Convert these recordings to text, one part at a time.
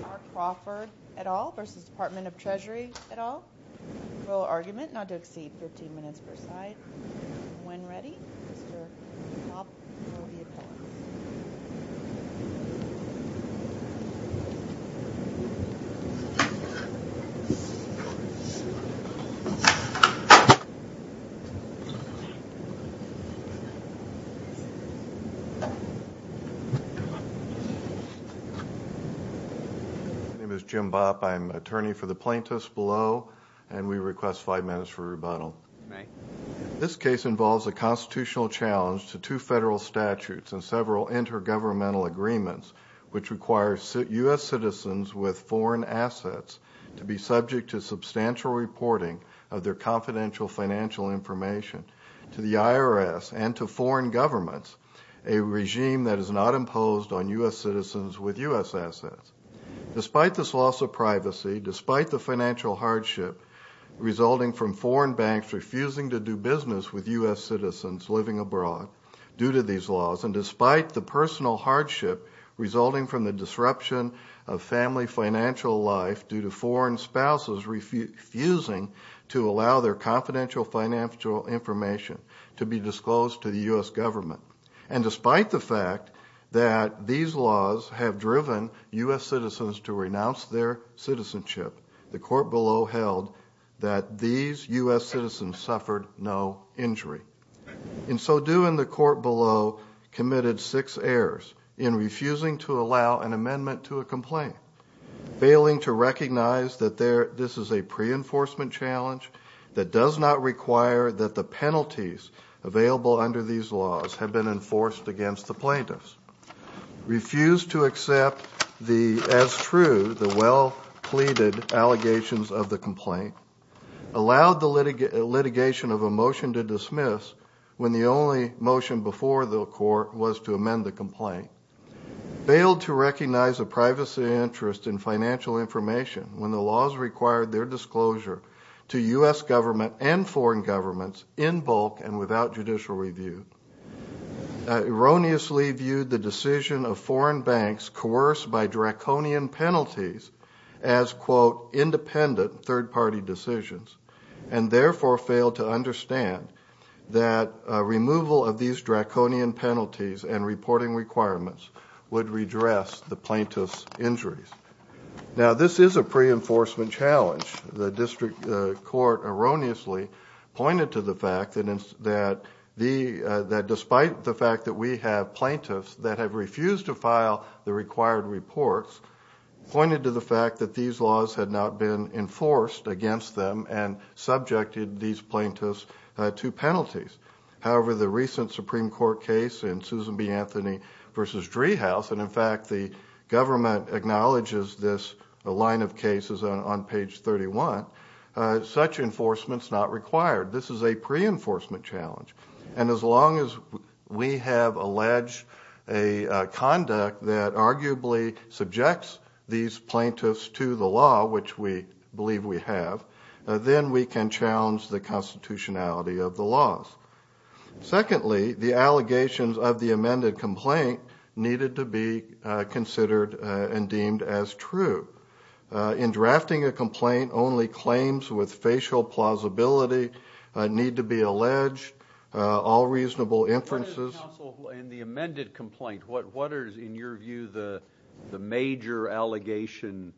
Mark Crawford et al. v. Department of Treasury et al. Rule of argument not to exceed 15 minutes per side. When ready, Mr. Cobb will be appointed. My name is Jim Bopp. I'm attorney for the plaintiffs below, and we request five minutes for rebuttal. This case involves a constitutional challenge to two federal statutes and several intergovernmental agreements which require U.S. citizens with foreign assets to be subject to substantial reporting of their confidential financial information to the IRS and to foreign governments, a regime that is not imposed on U.S. citizens with U.S. assets. Despite this loss of privacy, despite the financial hardship resulting from foreign banks refusing to do business with U.S. citizens living abroad due to these laws, and despite the personal hardship resulting from the disruption of family financial life due to foreign spouses refusing to allow their confidential financial information to be disclosed to the U.S. government, and despite the fact that these laws have driven U.S. citizens to renounce their citizenship, the court below held that these U.S. citizens suffered no injury. And so doing, the court below committed six errors in refusing to allow an amendment to a complaint, failing to recognize that this is a pre-enforcement challenge that does not require that the penalties available under these laws have been enforced against the plaintiffs, refused to accept as true the well-pleaded allegations of the complaint, allowed the litigation of a motion to dismiss when the only motion before the court was to amend the complaint, failed to recognize a privacy interest in financial information when the laws required their disclosure to U.S. government and foreign governments in bulk and without judicial review, erroneously viewed the decision of foreign banks coerced by draconian penalties as, quote, would redress the plaintiff's injuries. Now, this is a pre-enforcement challenge. The district court erroneously pointed to the fact that despite the fact that we have plaintiffs that have refused to file the required reports, pointed to the fact that these laws had not been enforced against them and subjected these plaintiffs to penalties. However, the recent Supreme Court case in Susan B. Anthony v. Driehaus, and in fact the government acknowledges this line of cases on page 31, such enforcement is not required. This is a pre-enforcement challenge. And as long as we have alleged a conduct that arguably subjects these plaintiffs to the law, which we believe we have, then we can challenge the constitutionality of the laws. Secondly, the allegations of the amended complaint needed to be considered and deemed as true. In drafting a complaint, only claims with facial plausibility need to be alleged, all reasonable inferences. Counsel, in the amended complaint, what is, in your view, the major allegation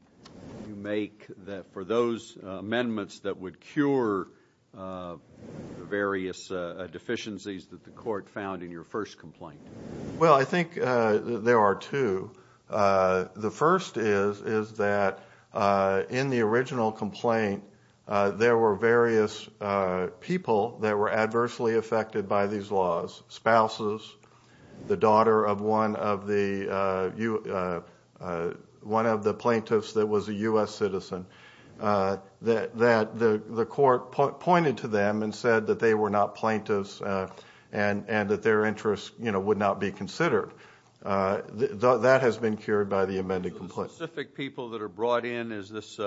you make for those amendments that would cure various deficiencies that the court found in your first complaint? Well, I think there are two. The first is that in the original complaint, there were various people that were adversely affected by these laws, spouses, the daughter of one of the plaintiffs that was a U.S. citizen, that the court pointed to them and said that they were not plaintiffs and that their interests would not be considered. That has been cured by the amended complaint. The specific people that are brought in, is this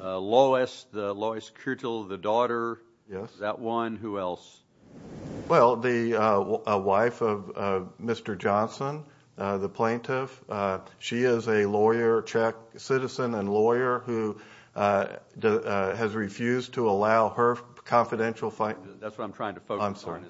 Lois, Lois Kirtle, the daughter? Yes. That one. Who else? Well, the wife of Mr. Johnson, the plaintiff. She is a lawyer, Czech citizen and lawyer, who has refused to allow her confidential file. That's what I'm trying to focus on. I'm sorry.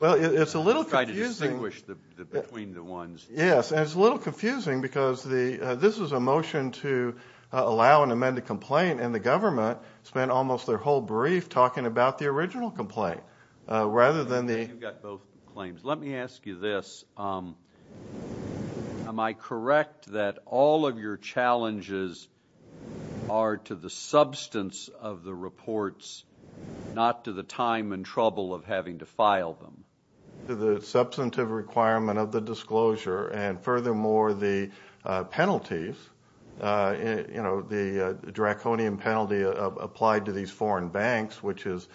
Well, it's a little confusing. I'm trying to distinguish between the ones. Yes. And it's a little confusing because this was a motion to allow an amended complaint, and the government spent almost their whole brief talking about the original complaint rather than the — You've got both claims. Let me ask you this. Am I correct that all of your challenges are to the substance of the reports, not to the time and trouble of having to file them? The substantive requirement of the disclosure and, furthermore, the penalties, the draconian penalty applied to these foreign banks, which is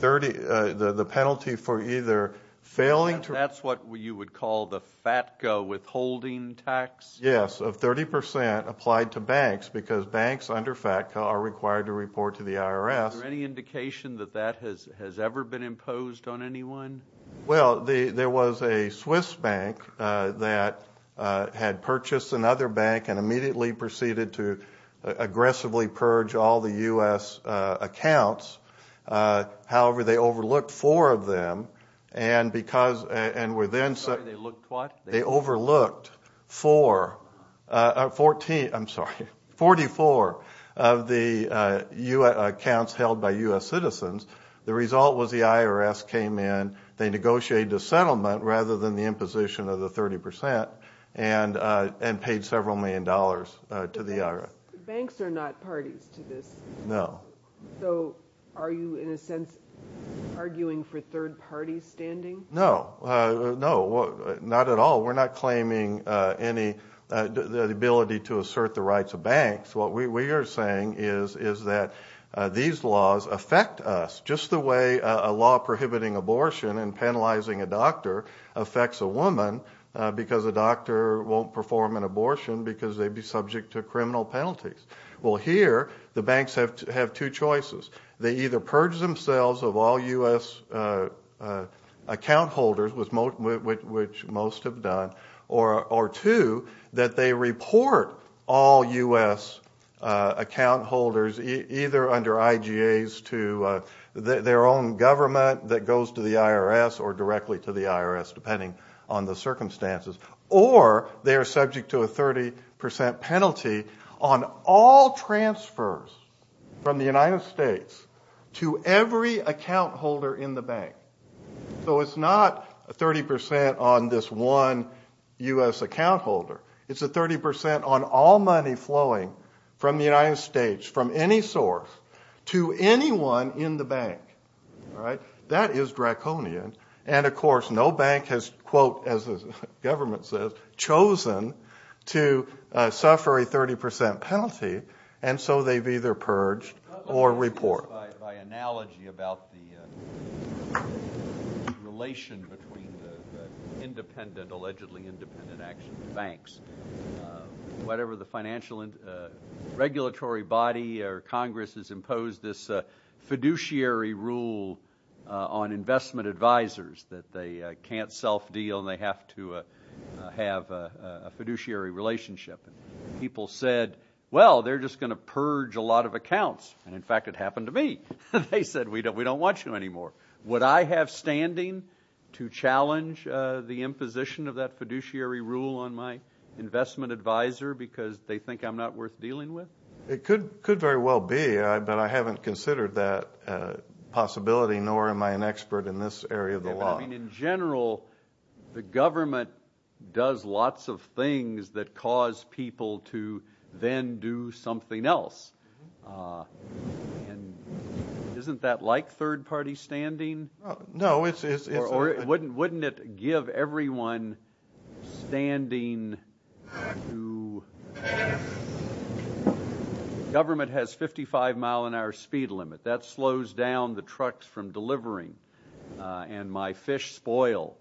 the penalty for either failing to — That's what you would call the FATCA withholding tax? Yes, of 30 percent applied to banks because banks under FATCA are required to report to the IRS. Is there any indication that that has ever been imposed on anyone? Well, there was a Swiss bank that had purchased another bank and immediately proceeded to aggressively purge all the U.S. accounts. However, they overlooked four of them and were then — They overlooked what? They overlooked four — I'm sorry, 44 of the accounts held by U.S. citizens. The result was the IRS came in, they negotiated a settlement rather than the imposition of the 30 percent, and paid several million dollars to the IRS. Banks are not parties to this. No. So are you, in a sense, arguing for third-party standing? No, no, not at all. We're not claiming any — the ability to assert the rights of banks. What we are saying is that these laws affect us just the way a law prohibiting abortion and penalizing a doctor affects a woman because a doctor won't perform an abortion because they'd be subject to criminal penalties. Well, here the banks have two choices. They either purge themselves of all U.S. account holders, which most have done, or two, that they report all U.S. account holders either under IGAs to their own government that goes to the IRS or directly to the IRS, depending on the circumstances, or they are subject to a 30 percent penalty on all transfers from the United States to every account holder in the bank. So it's not a 30 percent on this one U.S. account holder. It's a 30 percent on all money flowing from the United States from any source to anyone in the bank. That is draconian. And, of course, no bank has, quote, as the government says, chosen to suffer a 30 percent penalty, and so they've either purged or reported. By analogy about the relation between the independent, allegedly independent banks, whatever the financial regulatory body or Congress has imposed, this fiduciary rule on investment advisors that they can't self-deal and they have to have a fiduciary relationship. And people said, well, they're just going to purge a lot of accounts. And, in fact, it happened to me. They said, we don't want you anymore. Would I have standing to challenge the imposition of that fiduciary rule on my investment advisor because they think I'm not worth dealing with? It could very well be, but I haven't considered that possibility, nor am I an expert in this area of the law. I mean, in general, the government does lots of things that cause people to then do something else. And isn't that like third-party standing? No. Or wouldn't it give everyone standing to? The government has a 55-mile-an-hour speed limit. That slows down the trucks from delivering, and my fish spoil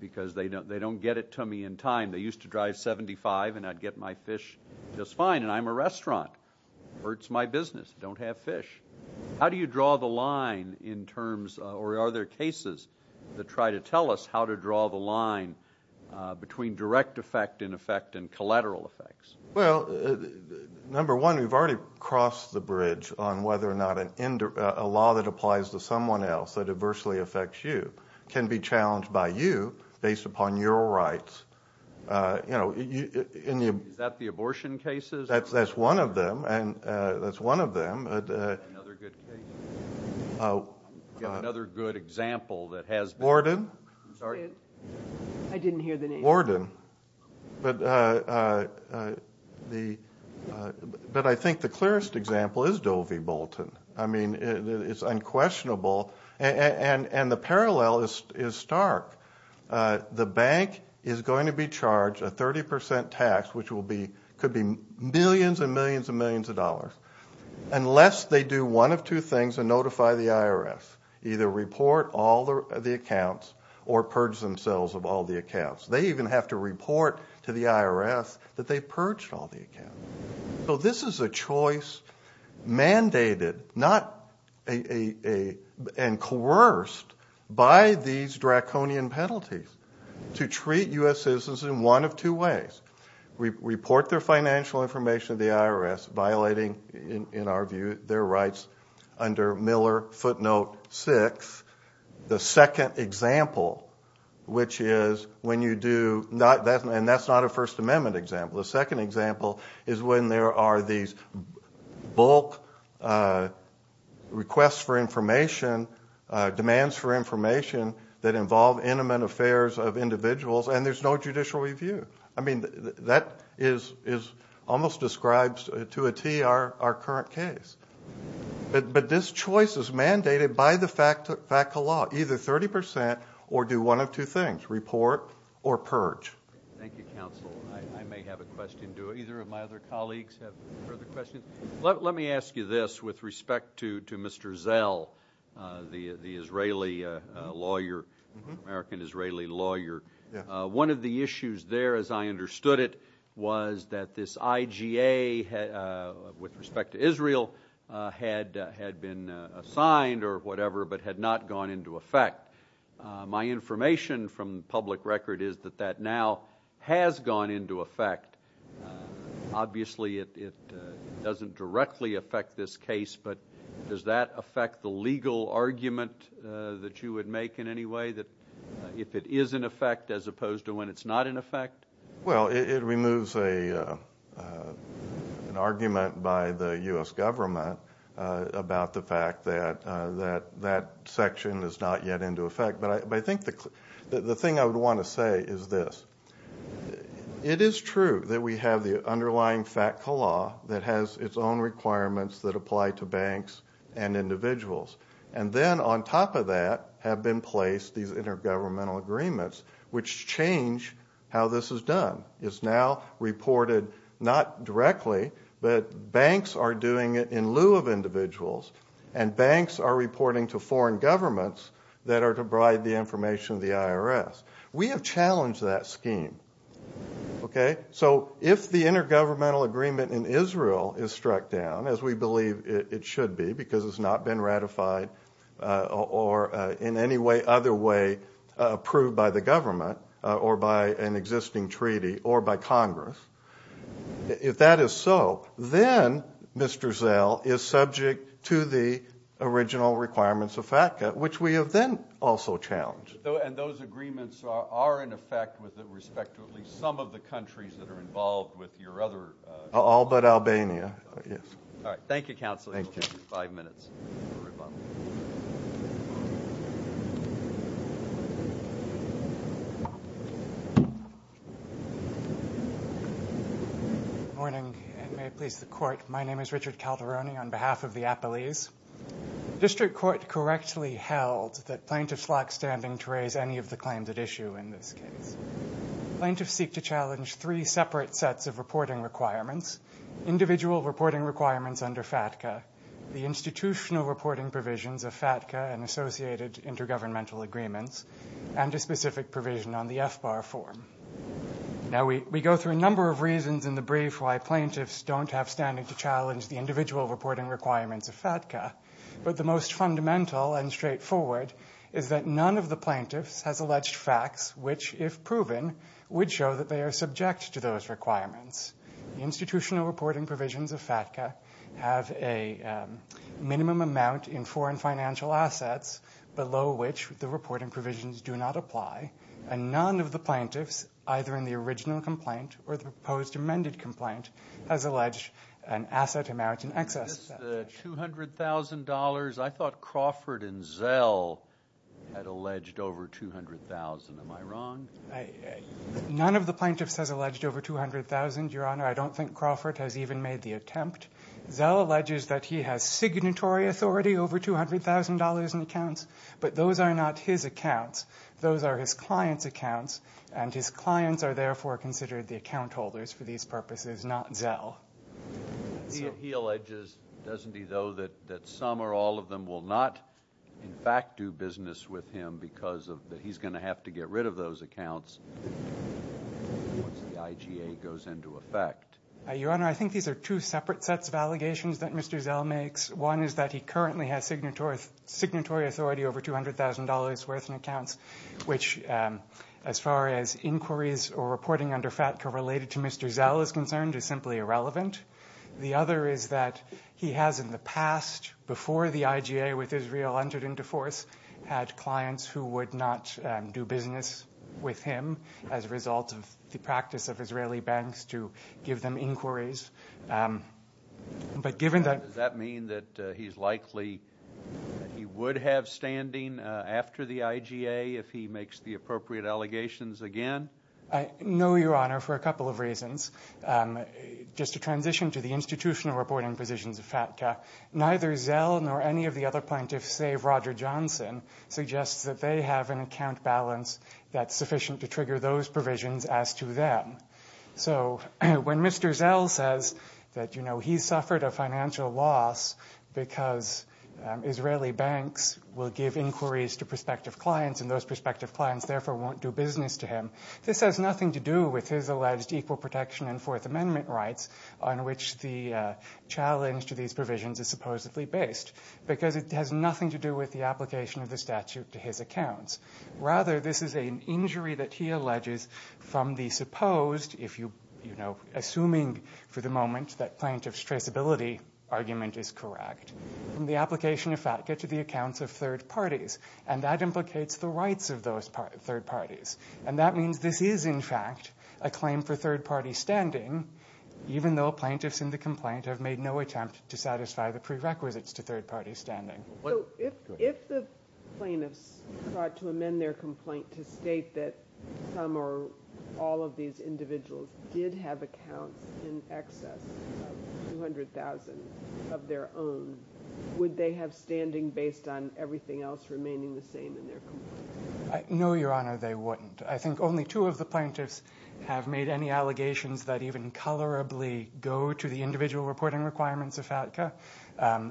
because they don't get it to me in time. They used to drive 75, and I'd get my fish just fine, and I'm a restaurant. It hurts my business. I don't have fish. How do you draw the line in terms of, or are there cases that try to tell us how to draw the line between direct effect, in effect, and collateral effects? Well, number one, we've already crossed the bridge on whether or not a law that applies to someone else that adversely affects you can be challenged by you based upon your rights. Is that the abortion cases? That's one of them. Another good example that has been. Worden? I'm sorry? I didn't hear the name. Worden. But I think the clearest example is Doe v. Bolton. I mean, it's unquestionable, and the parallel is stark. The bank is going to be charged a 30 percent tax, which could be millions and millions and millions of dollars, unless they do one of two things and notify the IRS, either report all the accounts or purge themselves of all the accounts. They even have to report to the IRS that they purged all the accounts. So this is a choice mandated and coerced by these draconian penalties to treat U.S. citizens in one of two ways. First, report their financial information to the IRS, violating, in our view, their rights under Miller footnote 6. The second example, which is when you do not do that, and that's not a First Amendment example. The second example is when there are these bulk requests for information, demands for information that involve intimate affairs of individuals, and there's no judicial review. I mean, that almost describes to a T our current case. But this choice is mandated by the FACA law, either 30 percent or do one of two things, report or purge. Thank you, counsel. I may have a question. Do either of my other colleagues have further questions? Let me ask you this with respect to Mr. Zell, the Israeli lawyer, American-Israeli lawyer. One of the issues there, as I understood it, was that this IGA with respect to Israel had been assigned or whatever but had not gone into effect. My information from public record is that that now has gone into effect. Obviously, it doesn't directly affect this case, but does that affect the legal argument that you would make in any way, that if it is in effect as opposed to when it's not in effect? Well, it removes an argument by the U.S. government about the fact that that section is not yet into effect. But I think the thing I would want to say is this. It is true that we have the underlying FACA law that has its own requirements that apply to banks and individuals. And then on top of that have been placed these intergovernmental agreements which change how this is done. It's now reported not directly, but banks are doing it in lieu of individuals, and banks are reporting to foreign governments that are to provide the information to the IRS. We have challenged that scheme, okay? So if the intergovernmental agreement in Israel is struck down, as we believe it should be, because it's not been ratified or in any other way approved by the government or by an existing treaty or by Congress, if that is so, then Mr. Zell is subject to the original requirements of FACA, which we have then also challenged. And those agreements are, in effect, with respect to at least some of the countries that are involved with your other All but Albania. All right. Thank you, Counsel. Thank you. Five minutes. Good morning, and may it please the Court. My name is Richard Calderoni on behalf of the Appalese. District Court correctly held that plaintiffs lack standing to raise any of the claims at issue in this case. Plaintiffs seek to challenge three separate sets of reporting requirements, individual reporting requirements under FATCA, the institutional reporting provisions of FATCA and associated intergovernmental agreements, and a specific provision on the FBAR form. Now, we go through a number of reasons in the brief why plaintiffs don't have standing to challenge the individual reporting requirements of FATCA. But the most fundamental and straightforward is that none of the plaintiffs has alleged facts which, if proven, would show that they are subject to those requirements. The institutional reporting provisions of FATCA have a minimum amount in foreign financial assets below which the reporting provisions do not apply, and none of the plaintiffs, either in the original complaint or the proposed amended complaint, has alleged an asset to merit in excess. Is this the $200,000? I thought Crawford and Zell had alleged over $200,000. Am I wrong? None of the plaintiffs has alleged over $200,000, Your Honor. I don't think Crawford has even made the attempt. Zell alleges that he has signatory authority over $200,000 in accounts, but those are not his accounts. Those are his clients' accounts, and his clients are therefore considered the account holders for these purposes, not Zell. So he alleges, doesn't he, though, that some or all of them will not in fact do business with him because he's going to have to get rid of those accounts once the IGA goes into effect? Your Honor, I think these are two separate sets of allegations that Mr. Zell makes. One is that he currently has signatory authority over $200,000 worth in accounts, which as far as inquiries or reporting under FATCA related to Mr. Zell is concerned is simply irrelevant. The other is that he has in the past, before the IGA with Israel entered into force, had clients who would not do business with him as a result of the practice of Israeli banks to give them inquiries. Does that mean that he's likely that he would have standing after the IGA if he makes the appropriate allegations again? No, Your Honor, for a couple of reasons. Just to transition to the institutional reporting positions of FATCA, neither Zell nor any of the other plaintiffs save Roger Johnson suggests that they have an account balance that's sufficient to trigger those provisions as to them. So when Mr. Zell says that he's suffered a financial loss because Israeli banks will give inquiries to prospective clients and those prospective clients therefore won't do business to him, this has nothing to do with his alleged equal protection and Fourth Amendment rights on which the challenge to these provisions is supposedly based because it has nothing to do with the application of the statute to his accounts. Rather, this is an injury that he alleges from the supposed, assuming for the moment that plaintiff's traceability argument is correct, from the application of FATCA to the accounts of third parties and that implicates the rights of those third parties. And that means this is, in fact, a claim for third party standing even though plaintiffs in the complaint have made no attempt to satisfy the prerequisites to third party standing. So if the plaintiffs tried to amend their complaint to state that some or all of these individuals did have accounts in excess of $200,000 of their own, would they have standing based on everything else remaining the same in their complaint? No, Your Honor, they wouldn't. I think only two of the plaintiffs have made any allegations that even colorably go to the individual reporting requirements of FATCA.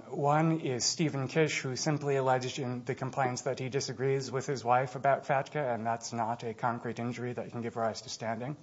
One is Stephen Kish who simply alleged in the complaints that he disagrees with his wife about FATCA and that's not a concrete injury that can give rise to standing.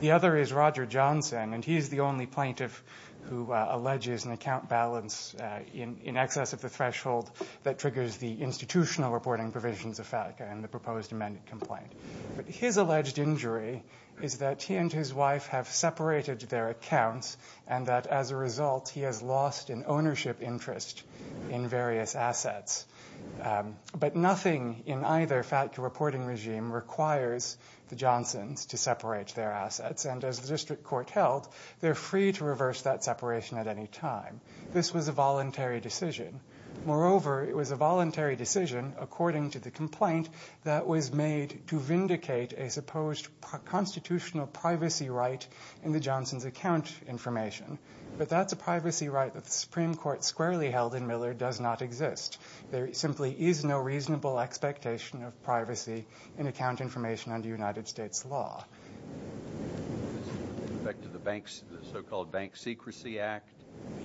The other is Roger Johnson and he's the only plaintiff who alleges an account balance in excess of the threshold that triggers the institutional reporting provisions of FATCA in the proposed amended complaint. But his alleged injury is that he and his wife have separated their accounts and that as a result he has lost an ownership interest in various assets. But nothing in either FATCA reporting regime requires the Johnsons to separate their assets and as the district court held, they're free to reverse that separation at any time. This was a voluntary decision. Moreover, it was a voluntary decision according to the complaint that was made to vindicate a supposed constitutional privacy right in the Johnsons' account information. But that's a privacy right that the Supreme Court squarely held in Miller does not exist. There simply is no reasonable expectation of privacy in account information under United States law. Back to the so-called Bank Secrecy Act?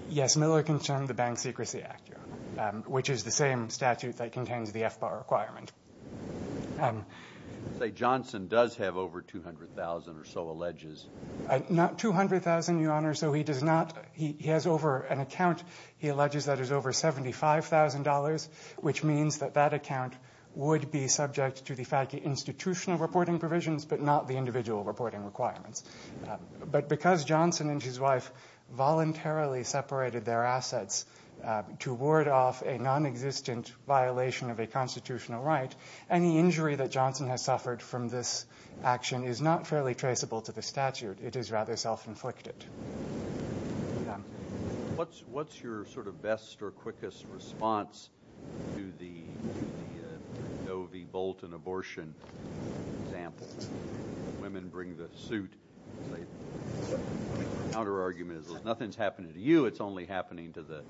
Yes, Miller concerned the Bank Secrecy Act, Your Honor, which is the same statute that contains the FBAR requirement. You say Johnson does have over $200,000 or so alleges? Not $200,000, Your Honor. He has over an account he alleges that is over $75,000, which means that that account would be subject to the FATCA institutional reporting provisions but not the individual reporting requirements. But because Johnson and his wife voluntarily separated their assets to ward off a nonexistent violation of a constitutional right, any injury that Johnson has suffered from this action is not fairly traceable to the statute. It is rather self-inflicted. What's your sort of best or quickest response to the Novy Bolton abortion example? Women bring the suit. The counterargument is nothing's happening to you. It's only happening to the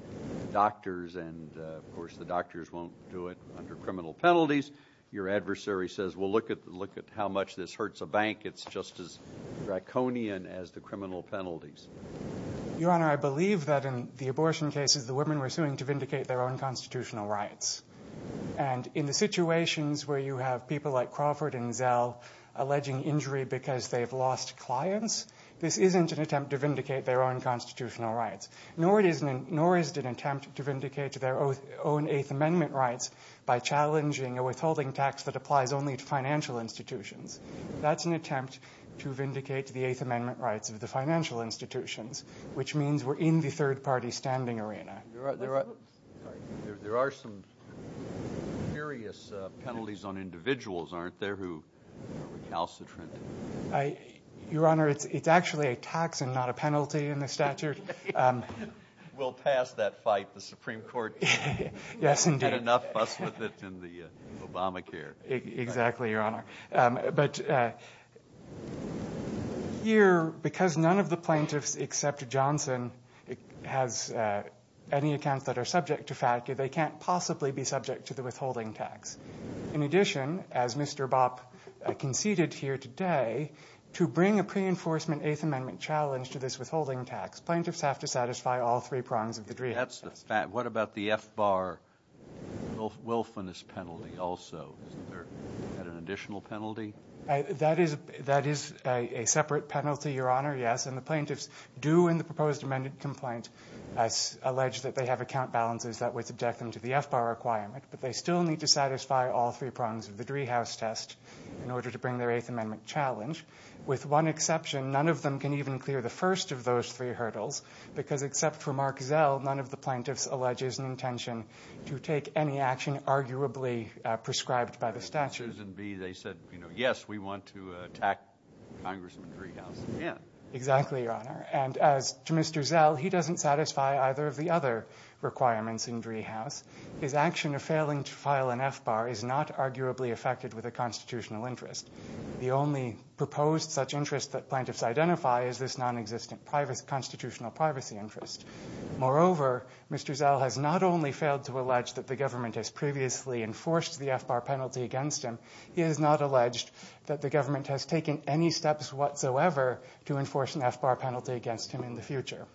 doctors, and of course the doctors won't do it under criminal penalties. Your adversary says, well, look at how much this hurts a bank. It's just as draconian as the criminal penalties. Your Honor, I believe that in the abortion cases, the women were suing to vindicate their own constitutional rights. And in the situations where you have people like Crawford and Zell alleging injury because they've lost clients, this isn't an attempt to vindicate their own constitutional rights, nor is it an attempt to vindicate their own Eighth Amendment rights by challenging a withholding tax that applies only to financial institutions. That's an attempt to vindicate the Eighth Amendment rights of the financial institutions, which means we're in the third-party standing arena. There are some serious penalties on individuals, aren't there, who are recalcitrant? Your Honor, it's actually a tax and not a penalty in the statute. We'll pass that fight. The Supreme Court can get enough fuss with it in the Obamacare. Exactly, Your Honor. But here, because none of the plaintiffs except Johnson has any accounts that are subject to FATCA, they can't possibly be subject to the withholding tax. In addition, as Mr. Bopp conceded here today, to bring a pre-enforcement Eighth Amendment challenge to this withholding tax, plaintiffs have to satisfy all three prongs of the Dream Act. What about the F-bar willfulness penalty also? Isn't there an additional penalty? That is a separate penalty, Your Honor, yes, and the plaintiffs do in the proposed amended complaint allege that they have account balances that would subject them to the F-bar requirement, but they still need to satisfy all three prongs of the Driehaus test in order to bring their Eighth Amendment challenge. With one exception, none of them can even clear the first of those three hurdles because except for Mark Zell, none of the plaintiffs allege is an intention to take any action arguably prescribed by the statute. And with Susan B., they said, you know, yes, we want to attack Congressman Driehaus again. Exactly, Your Honor, and as to Mr. Zell, he doesn't satisfy either of the other requirements in Driehaus. His action of failing to file an F-bar is not arguably affected with a constitutional interest. The only proposed such interest that plaintiffs identify is this nonexistent constitutional privacy interest. Moreover, Mr. Zell has not only failed to allege that the government has previously enforced the F-bar penalty against him, he has not alleged that the government has taken any steps whatsoever to enforce an F-bar penalty against him in the future.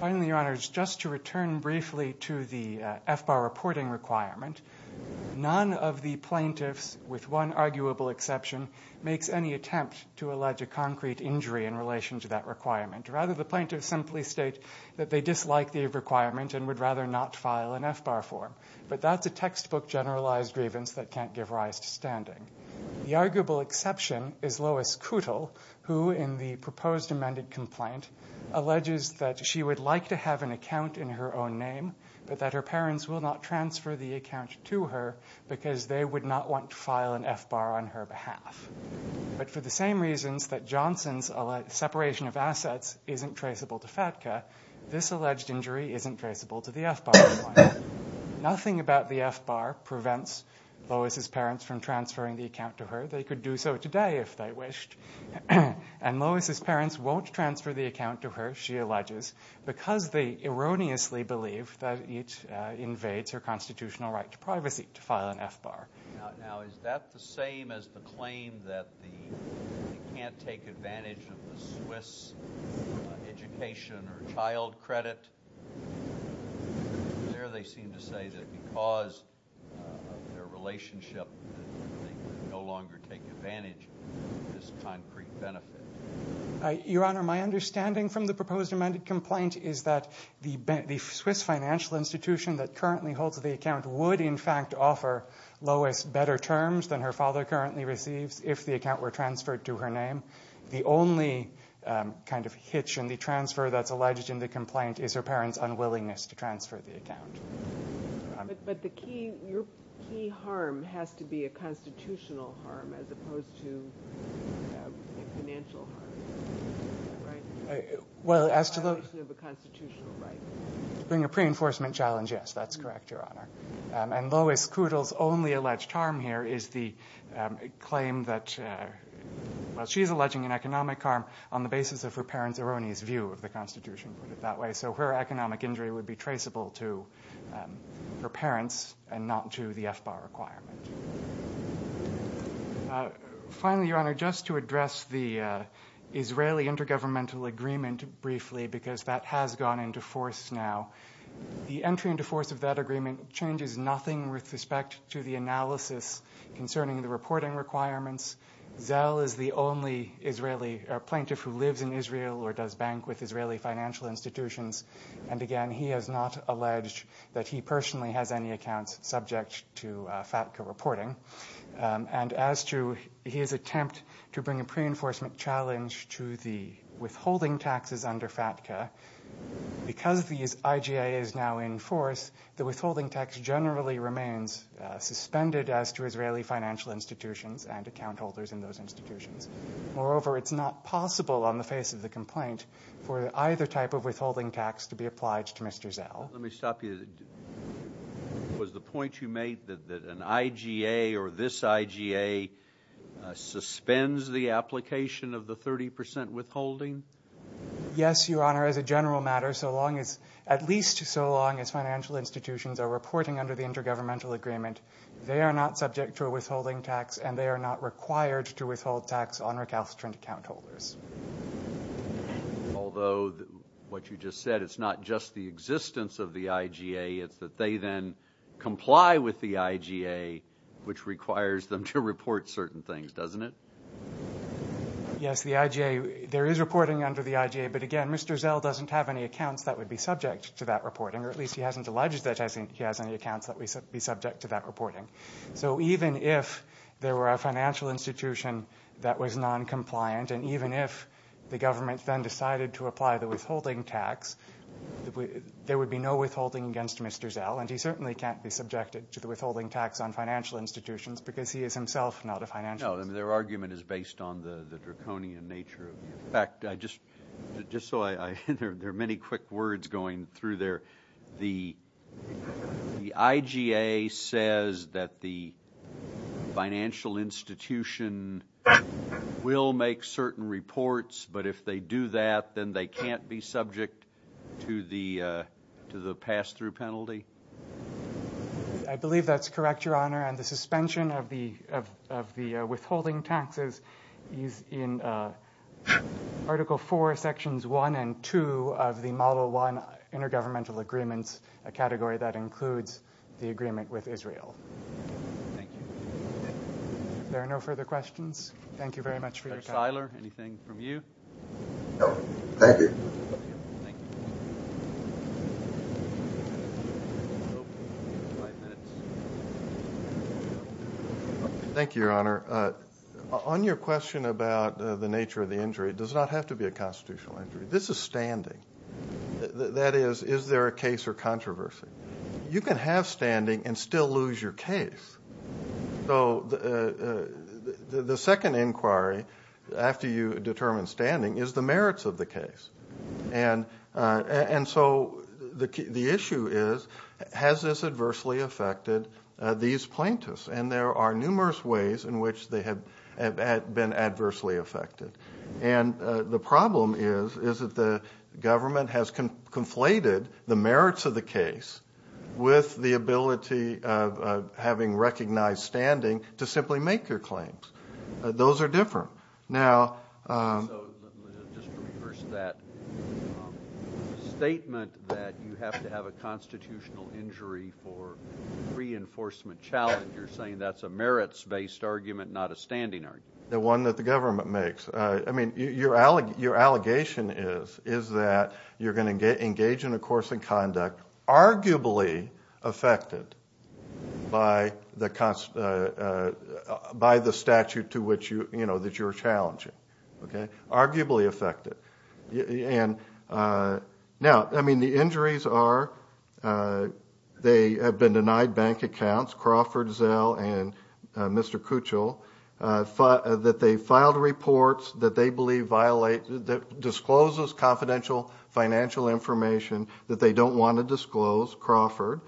Finally, Your Honor, just to return briefly to the F-bar reporting requirement, none of the plaintiffs, with one arguable exception, makes any attempt to allege a concrete injury in relation to that requirement. Rather, the plaintiffs simply state that they dislike the requirement and would rather not file an F-bar for him. But that's a textbook generalized grievance that can't give rise to standing. The arguable exception is Lois Kuttel, who in the proposed amended complaint alleges that she would like to have an account in her own name, but that her parents will not transfer the account to her because they would not want to file an F-bar on her behalf. But for the same reasons that Johnson's separation of assets isn't traceable to FATCA, this alleged injury isn't traceable to the F-bar requirement. Nothing about the F-bar prevents Lois' parents from transferring the account to her. They could do so today if they wished. And Lois' parents won't transfer the account to her, she alleges, because they erroneously believe that it invades her constitutional right to privacy to file an F-bar. Now, is that the same as the claim that they can't take advantage of the Swiss education or child credit? There they seem to say that because of their relationship they can no longer take advantage of this concrete benefit. Your Honor, my understanding from the proposed amended complaint is that the Swiss financial institution that currently holds the account would, in fact, offer Lois better terms than her father currently receives if the account were transferred to her name. The only kind of hitch in the transfer that's alleged in the complaint is her parents' unwillingness to transfer the account. But the key harm has to be a constitutional harm as opposed to a financial harm, right? Well, as to the... The violation of a constitutional right. To bring a pre-enforcement challenge, yes, that's correct, Your Honor. And Lois Kudel's only alleged harm here is the claim that she's alleging an economic harm on the basis of her parents' erroneous view of the Constitution, put it that way. So her economic injury would be traceable to her parents and not to the F-bar requirement. Finally, Your Honor, just to address the Israeli intergovernmental agreement briefly, because that has gone into force now. The entry into force of that agreement changes nothing with respect to the analysis concerning the reporting requirements. Zell is the only Israeli plaintiff who lives in Israel or does bank with Israeli financial institutions. And again, he has not alleged that he personally has any accounts subject to FATCA reporting. And as to his attempt to bring a pre-enforcement challenge to the withholding taxes under FATCA, because the IGA is now in force, the withholding tax generally remains suspended as to Israeli financial institutions and account holders in those institutions. Moreover, it's not possible on the face of the complaint for either type of withholding tax to be applied to Mr. Zell. Let me stop you. Was the point you made that an IGA or this IGA suspends the application of the 30% withholding? Yes, Your Honor. As a general matter, at least so long as financial institutions are reporting under the intergovernmental agreement, they are not subject to a withholding tax and they are not required to withhold tax on recalcitrant account holders. Although what you just said, it's not just the existence of the IGA, it's that they then comply with the IGA, which requires them to report certain things, doesn't it? Yes, the IGA, there is reporting under the IGA, but again Mr. Zell doesn't have any accounts that would be subject to that reporting, or at least he hasn't alleged that he has any accounts that would be subject to that reporting. So even if there were a financial institution that was noncompliant and even if the government then decided to apply the withholding tax, there would be no withholding against Mr. Zell and he certainly can't be subjected to the withholding tax on financial institutions because he is himself not a financial institution. No, their argument is based on the draconian nature. In fact, I just saw there are many quick words going through there. The IGA says that the financial institution will make certain reports, but if they do that then they can't be subject to the pass-through penalty? I believe that's correct, Your Honor, and the suspension of the withholding taxes is in Article 4, Sections 1 and 2 of the Model 1 Intergovernmental Agreements, a category that includes the agreement with Israel. Thank you. If there are no further questions, thank you very much for your time. Mr. Shiler, anything from you? No, thank you. Thank you, Your Honor. On your question about the nature of the injury, it does not have to be a constitutional injury. This is standing. That is, is there a case or controversy? You can have standing and still lose your case. So the second inquiry, after you determine standing, is the merits of the case. And so the issue is, has this adversely affected these plaintiffs? And there are numerous ways in which they have been adversely affected. And the problem is that the government has conflated the merits of the case with the ability of having recognized standing to simply make your claims. Those are different. Now ---- So just to reverse that statement that you have to have a constitutional injury for reinforcement challenge, you're saying that's a merits-based argument, not a standing argument? The one that the government makes. I mean, your allegation is that you're going to engage in a course in conduct, arguably affected by the statute that you're challenging. Okay? Arguably affected. Now, I mean, the injuries are they have been denied bank accounts, Crawford, Zell, and Mr. Kuchel, that they filed reports that they believe disclose confidential financial information that they don't want to disclose, Crawford.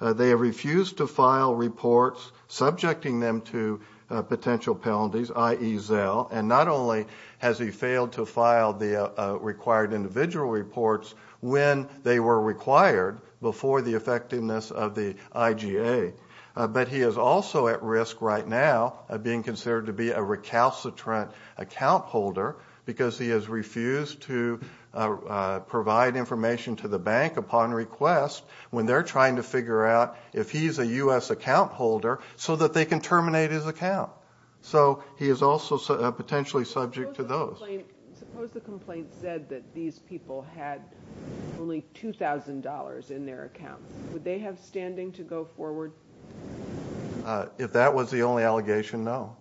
They have refused to file reports subjecting them to potential penalties, i.e., Zell. And not only has he failed to file the required individual reports when they were required before the effectiveness of the IGA, but he is also at risk right now of being considered to be a recalcitrant account holder because he has refused to provide information to the bank upon request when they're trying to figure out if he's a U.S. account holder so that they can terminate his account. So he is also potentially subject to those. Suppose the complaint said that these people had only $2,000 in their account. Would they have standing to go forward? If that was the only allegation, no.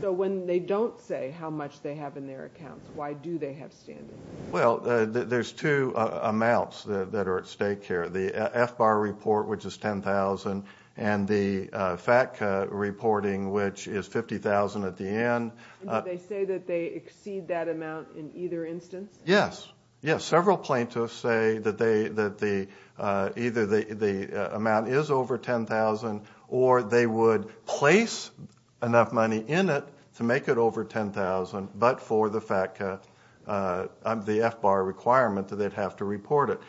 So when they don't say how much they have in their accounts, why do they have standing? Well, there's two amounts that are at stake here, the FBAR report, which is $10,000, and the FATCA reporting, which is $50,000 at the end. And do they say that they exceed that amount in either instance? Yes, yes. Several plaintiffs say that either the amount is over $10,000 or they would place enough money in it to make it over $10,000 but for the FATCA, the FBAR requirement that they'd have to report it.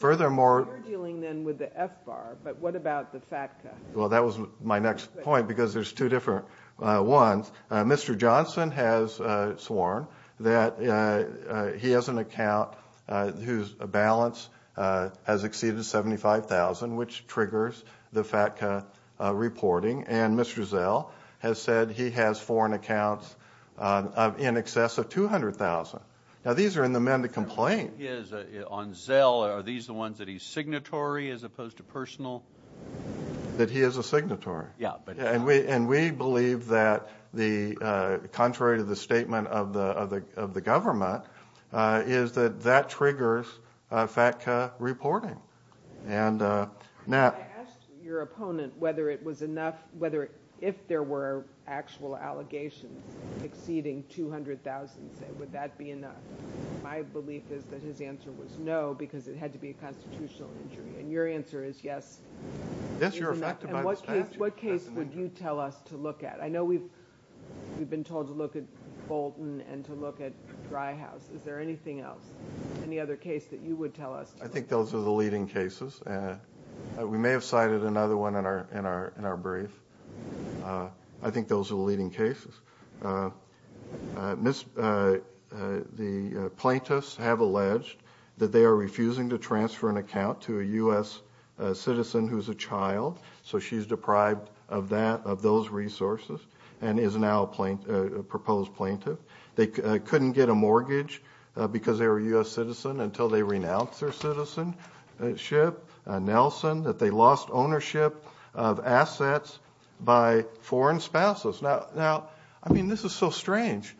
So you're dealing then with the FBAR, but what about the FATCA? Well, that was my next point because there's two different ones. Mr. Johnson has sworn that he has an account whose balance has exceeded $75,000, which triggers the FATCA reporting, and Mr. Zell has said he has foreign accounts in excess of $200,000. Now, these are in the amended complaint. On Zell, are these the ones that he's signatory as opposed to personal? That he is a signatory. And we believe that, contrary to the statement of the government, is that that triggers FATCA reporting. I asked your opponent whether if there were actual allegations exceeding $200,000, would that be enough. My belief is that his answer was no because it had to be a constitutional injury, and your answer is yes. Yes, you're affected by the statute. What case would you tell us to look at? I know we've been told to look at Bolton and to look at Dry House. I think those are the leading cases. We may have cited another one in our brief. I think those are the leading cases. The plaintiffs have alleged that they are refusing to transfer an account to a U.S. citizen who's a child, so she's deprived of those resources and is now a proposed plaintiff. They couldn't get a mortgage because they were a U.S. citizen until they renounced their citizenship. Nelson, that they lost ownership of assets by foreign spouses. Now, I mean, this is so strange.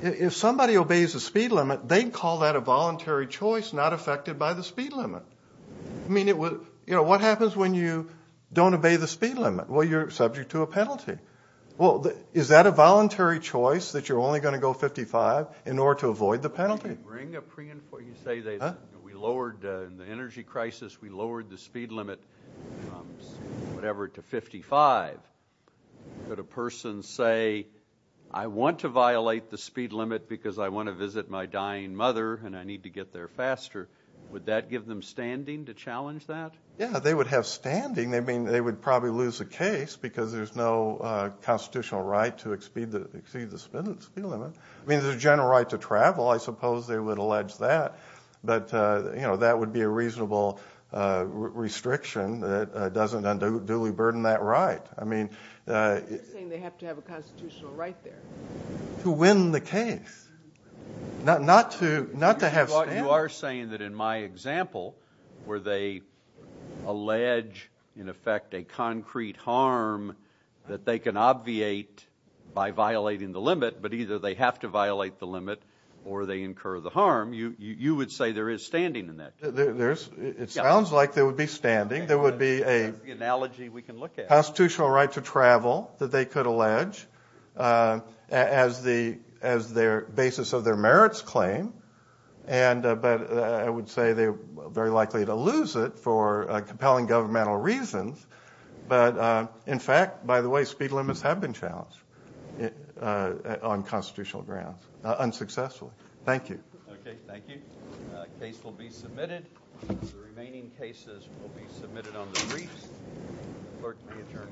If somebody obeys the speed limit, they call that a voluntary choice not affected by the speed limit. I mean, what happens when you don't obey the speed limit? Well, you're subject to a penalty. Well, is that a voluntary choice that you're only going to go 55 in order to avoid the penalty? You say we lowered the energy crisis, we lowered the speed limit, whatever, to 55. Could a person say, I want to violate the speed limit because I want to visit my dying mother and I need to get there faster, would that give them standing to challenge that? Yeah, they would have standing. They would probably lose the case because there's no constitutional right to exceed the speed limit. I mean, there's a general right to travel. I suppose they would allege that. But that would be a reasonable restriction that doesn't unduly burden that right. You're saying they have to have a constitutional right there. To win the case, not to have standing. You are saying that in my example where they allege, in effect, a concrete harm that they can obviate by violating the limit, but either they have to violate the limit or they incur the harm, you would say there is standing in that case. It sounds like there would be standing. There would be a constitutional right to travel that they could allege as their basis of their merits claim. But I would say they are very likely to lose it for compelling governmental reasons. But, in fact, by the way, speed limits have been challenged on constitutional grounds, unsuccessfully. Thank you. Okay, thank you. The case will be submitted. The remaining cases will be submitted on the briefs. The clerk may adjourn court.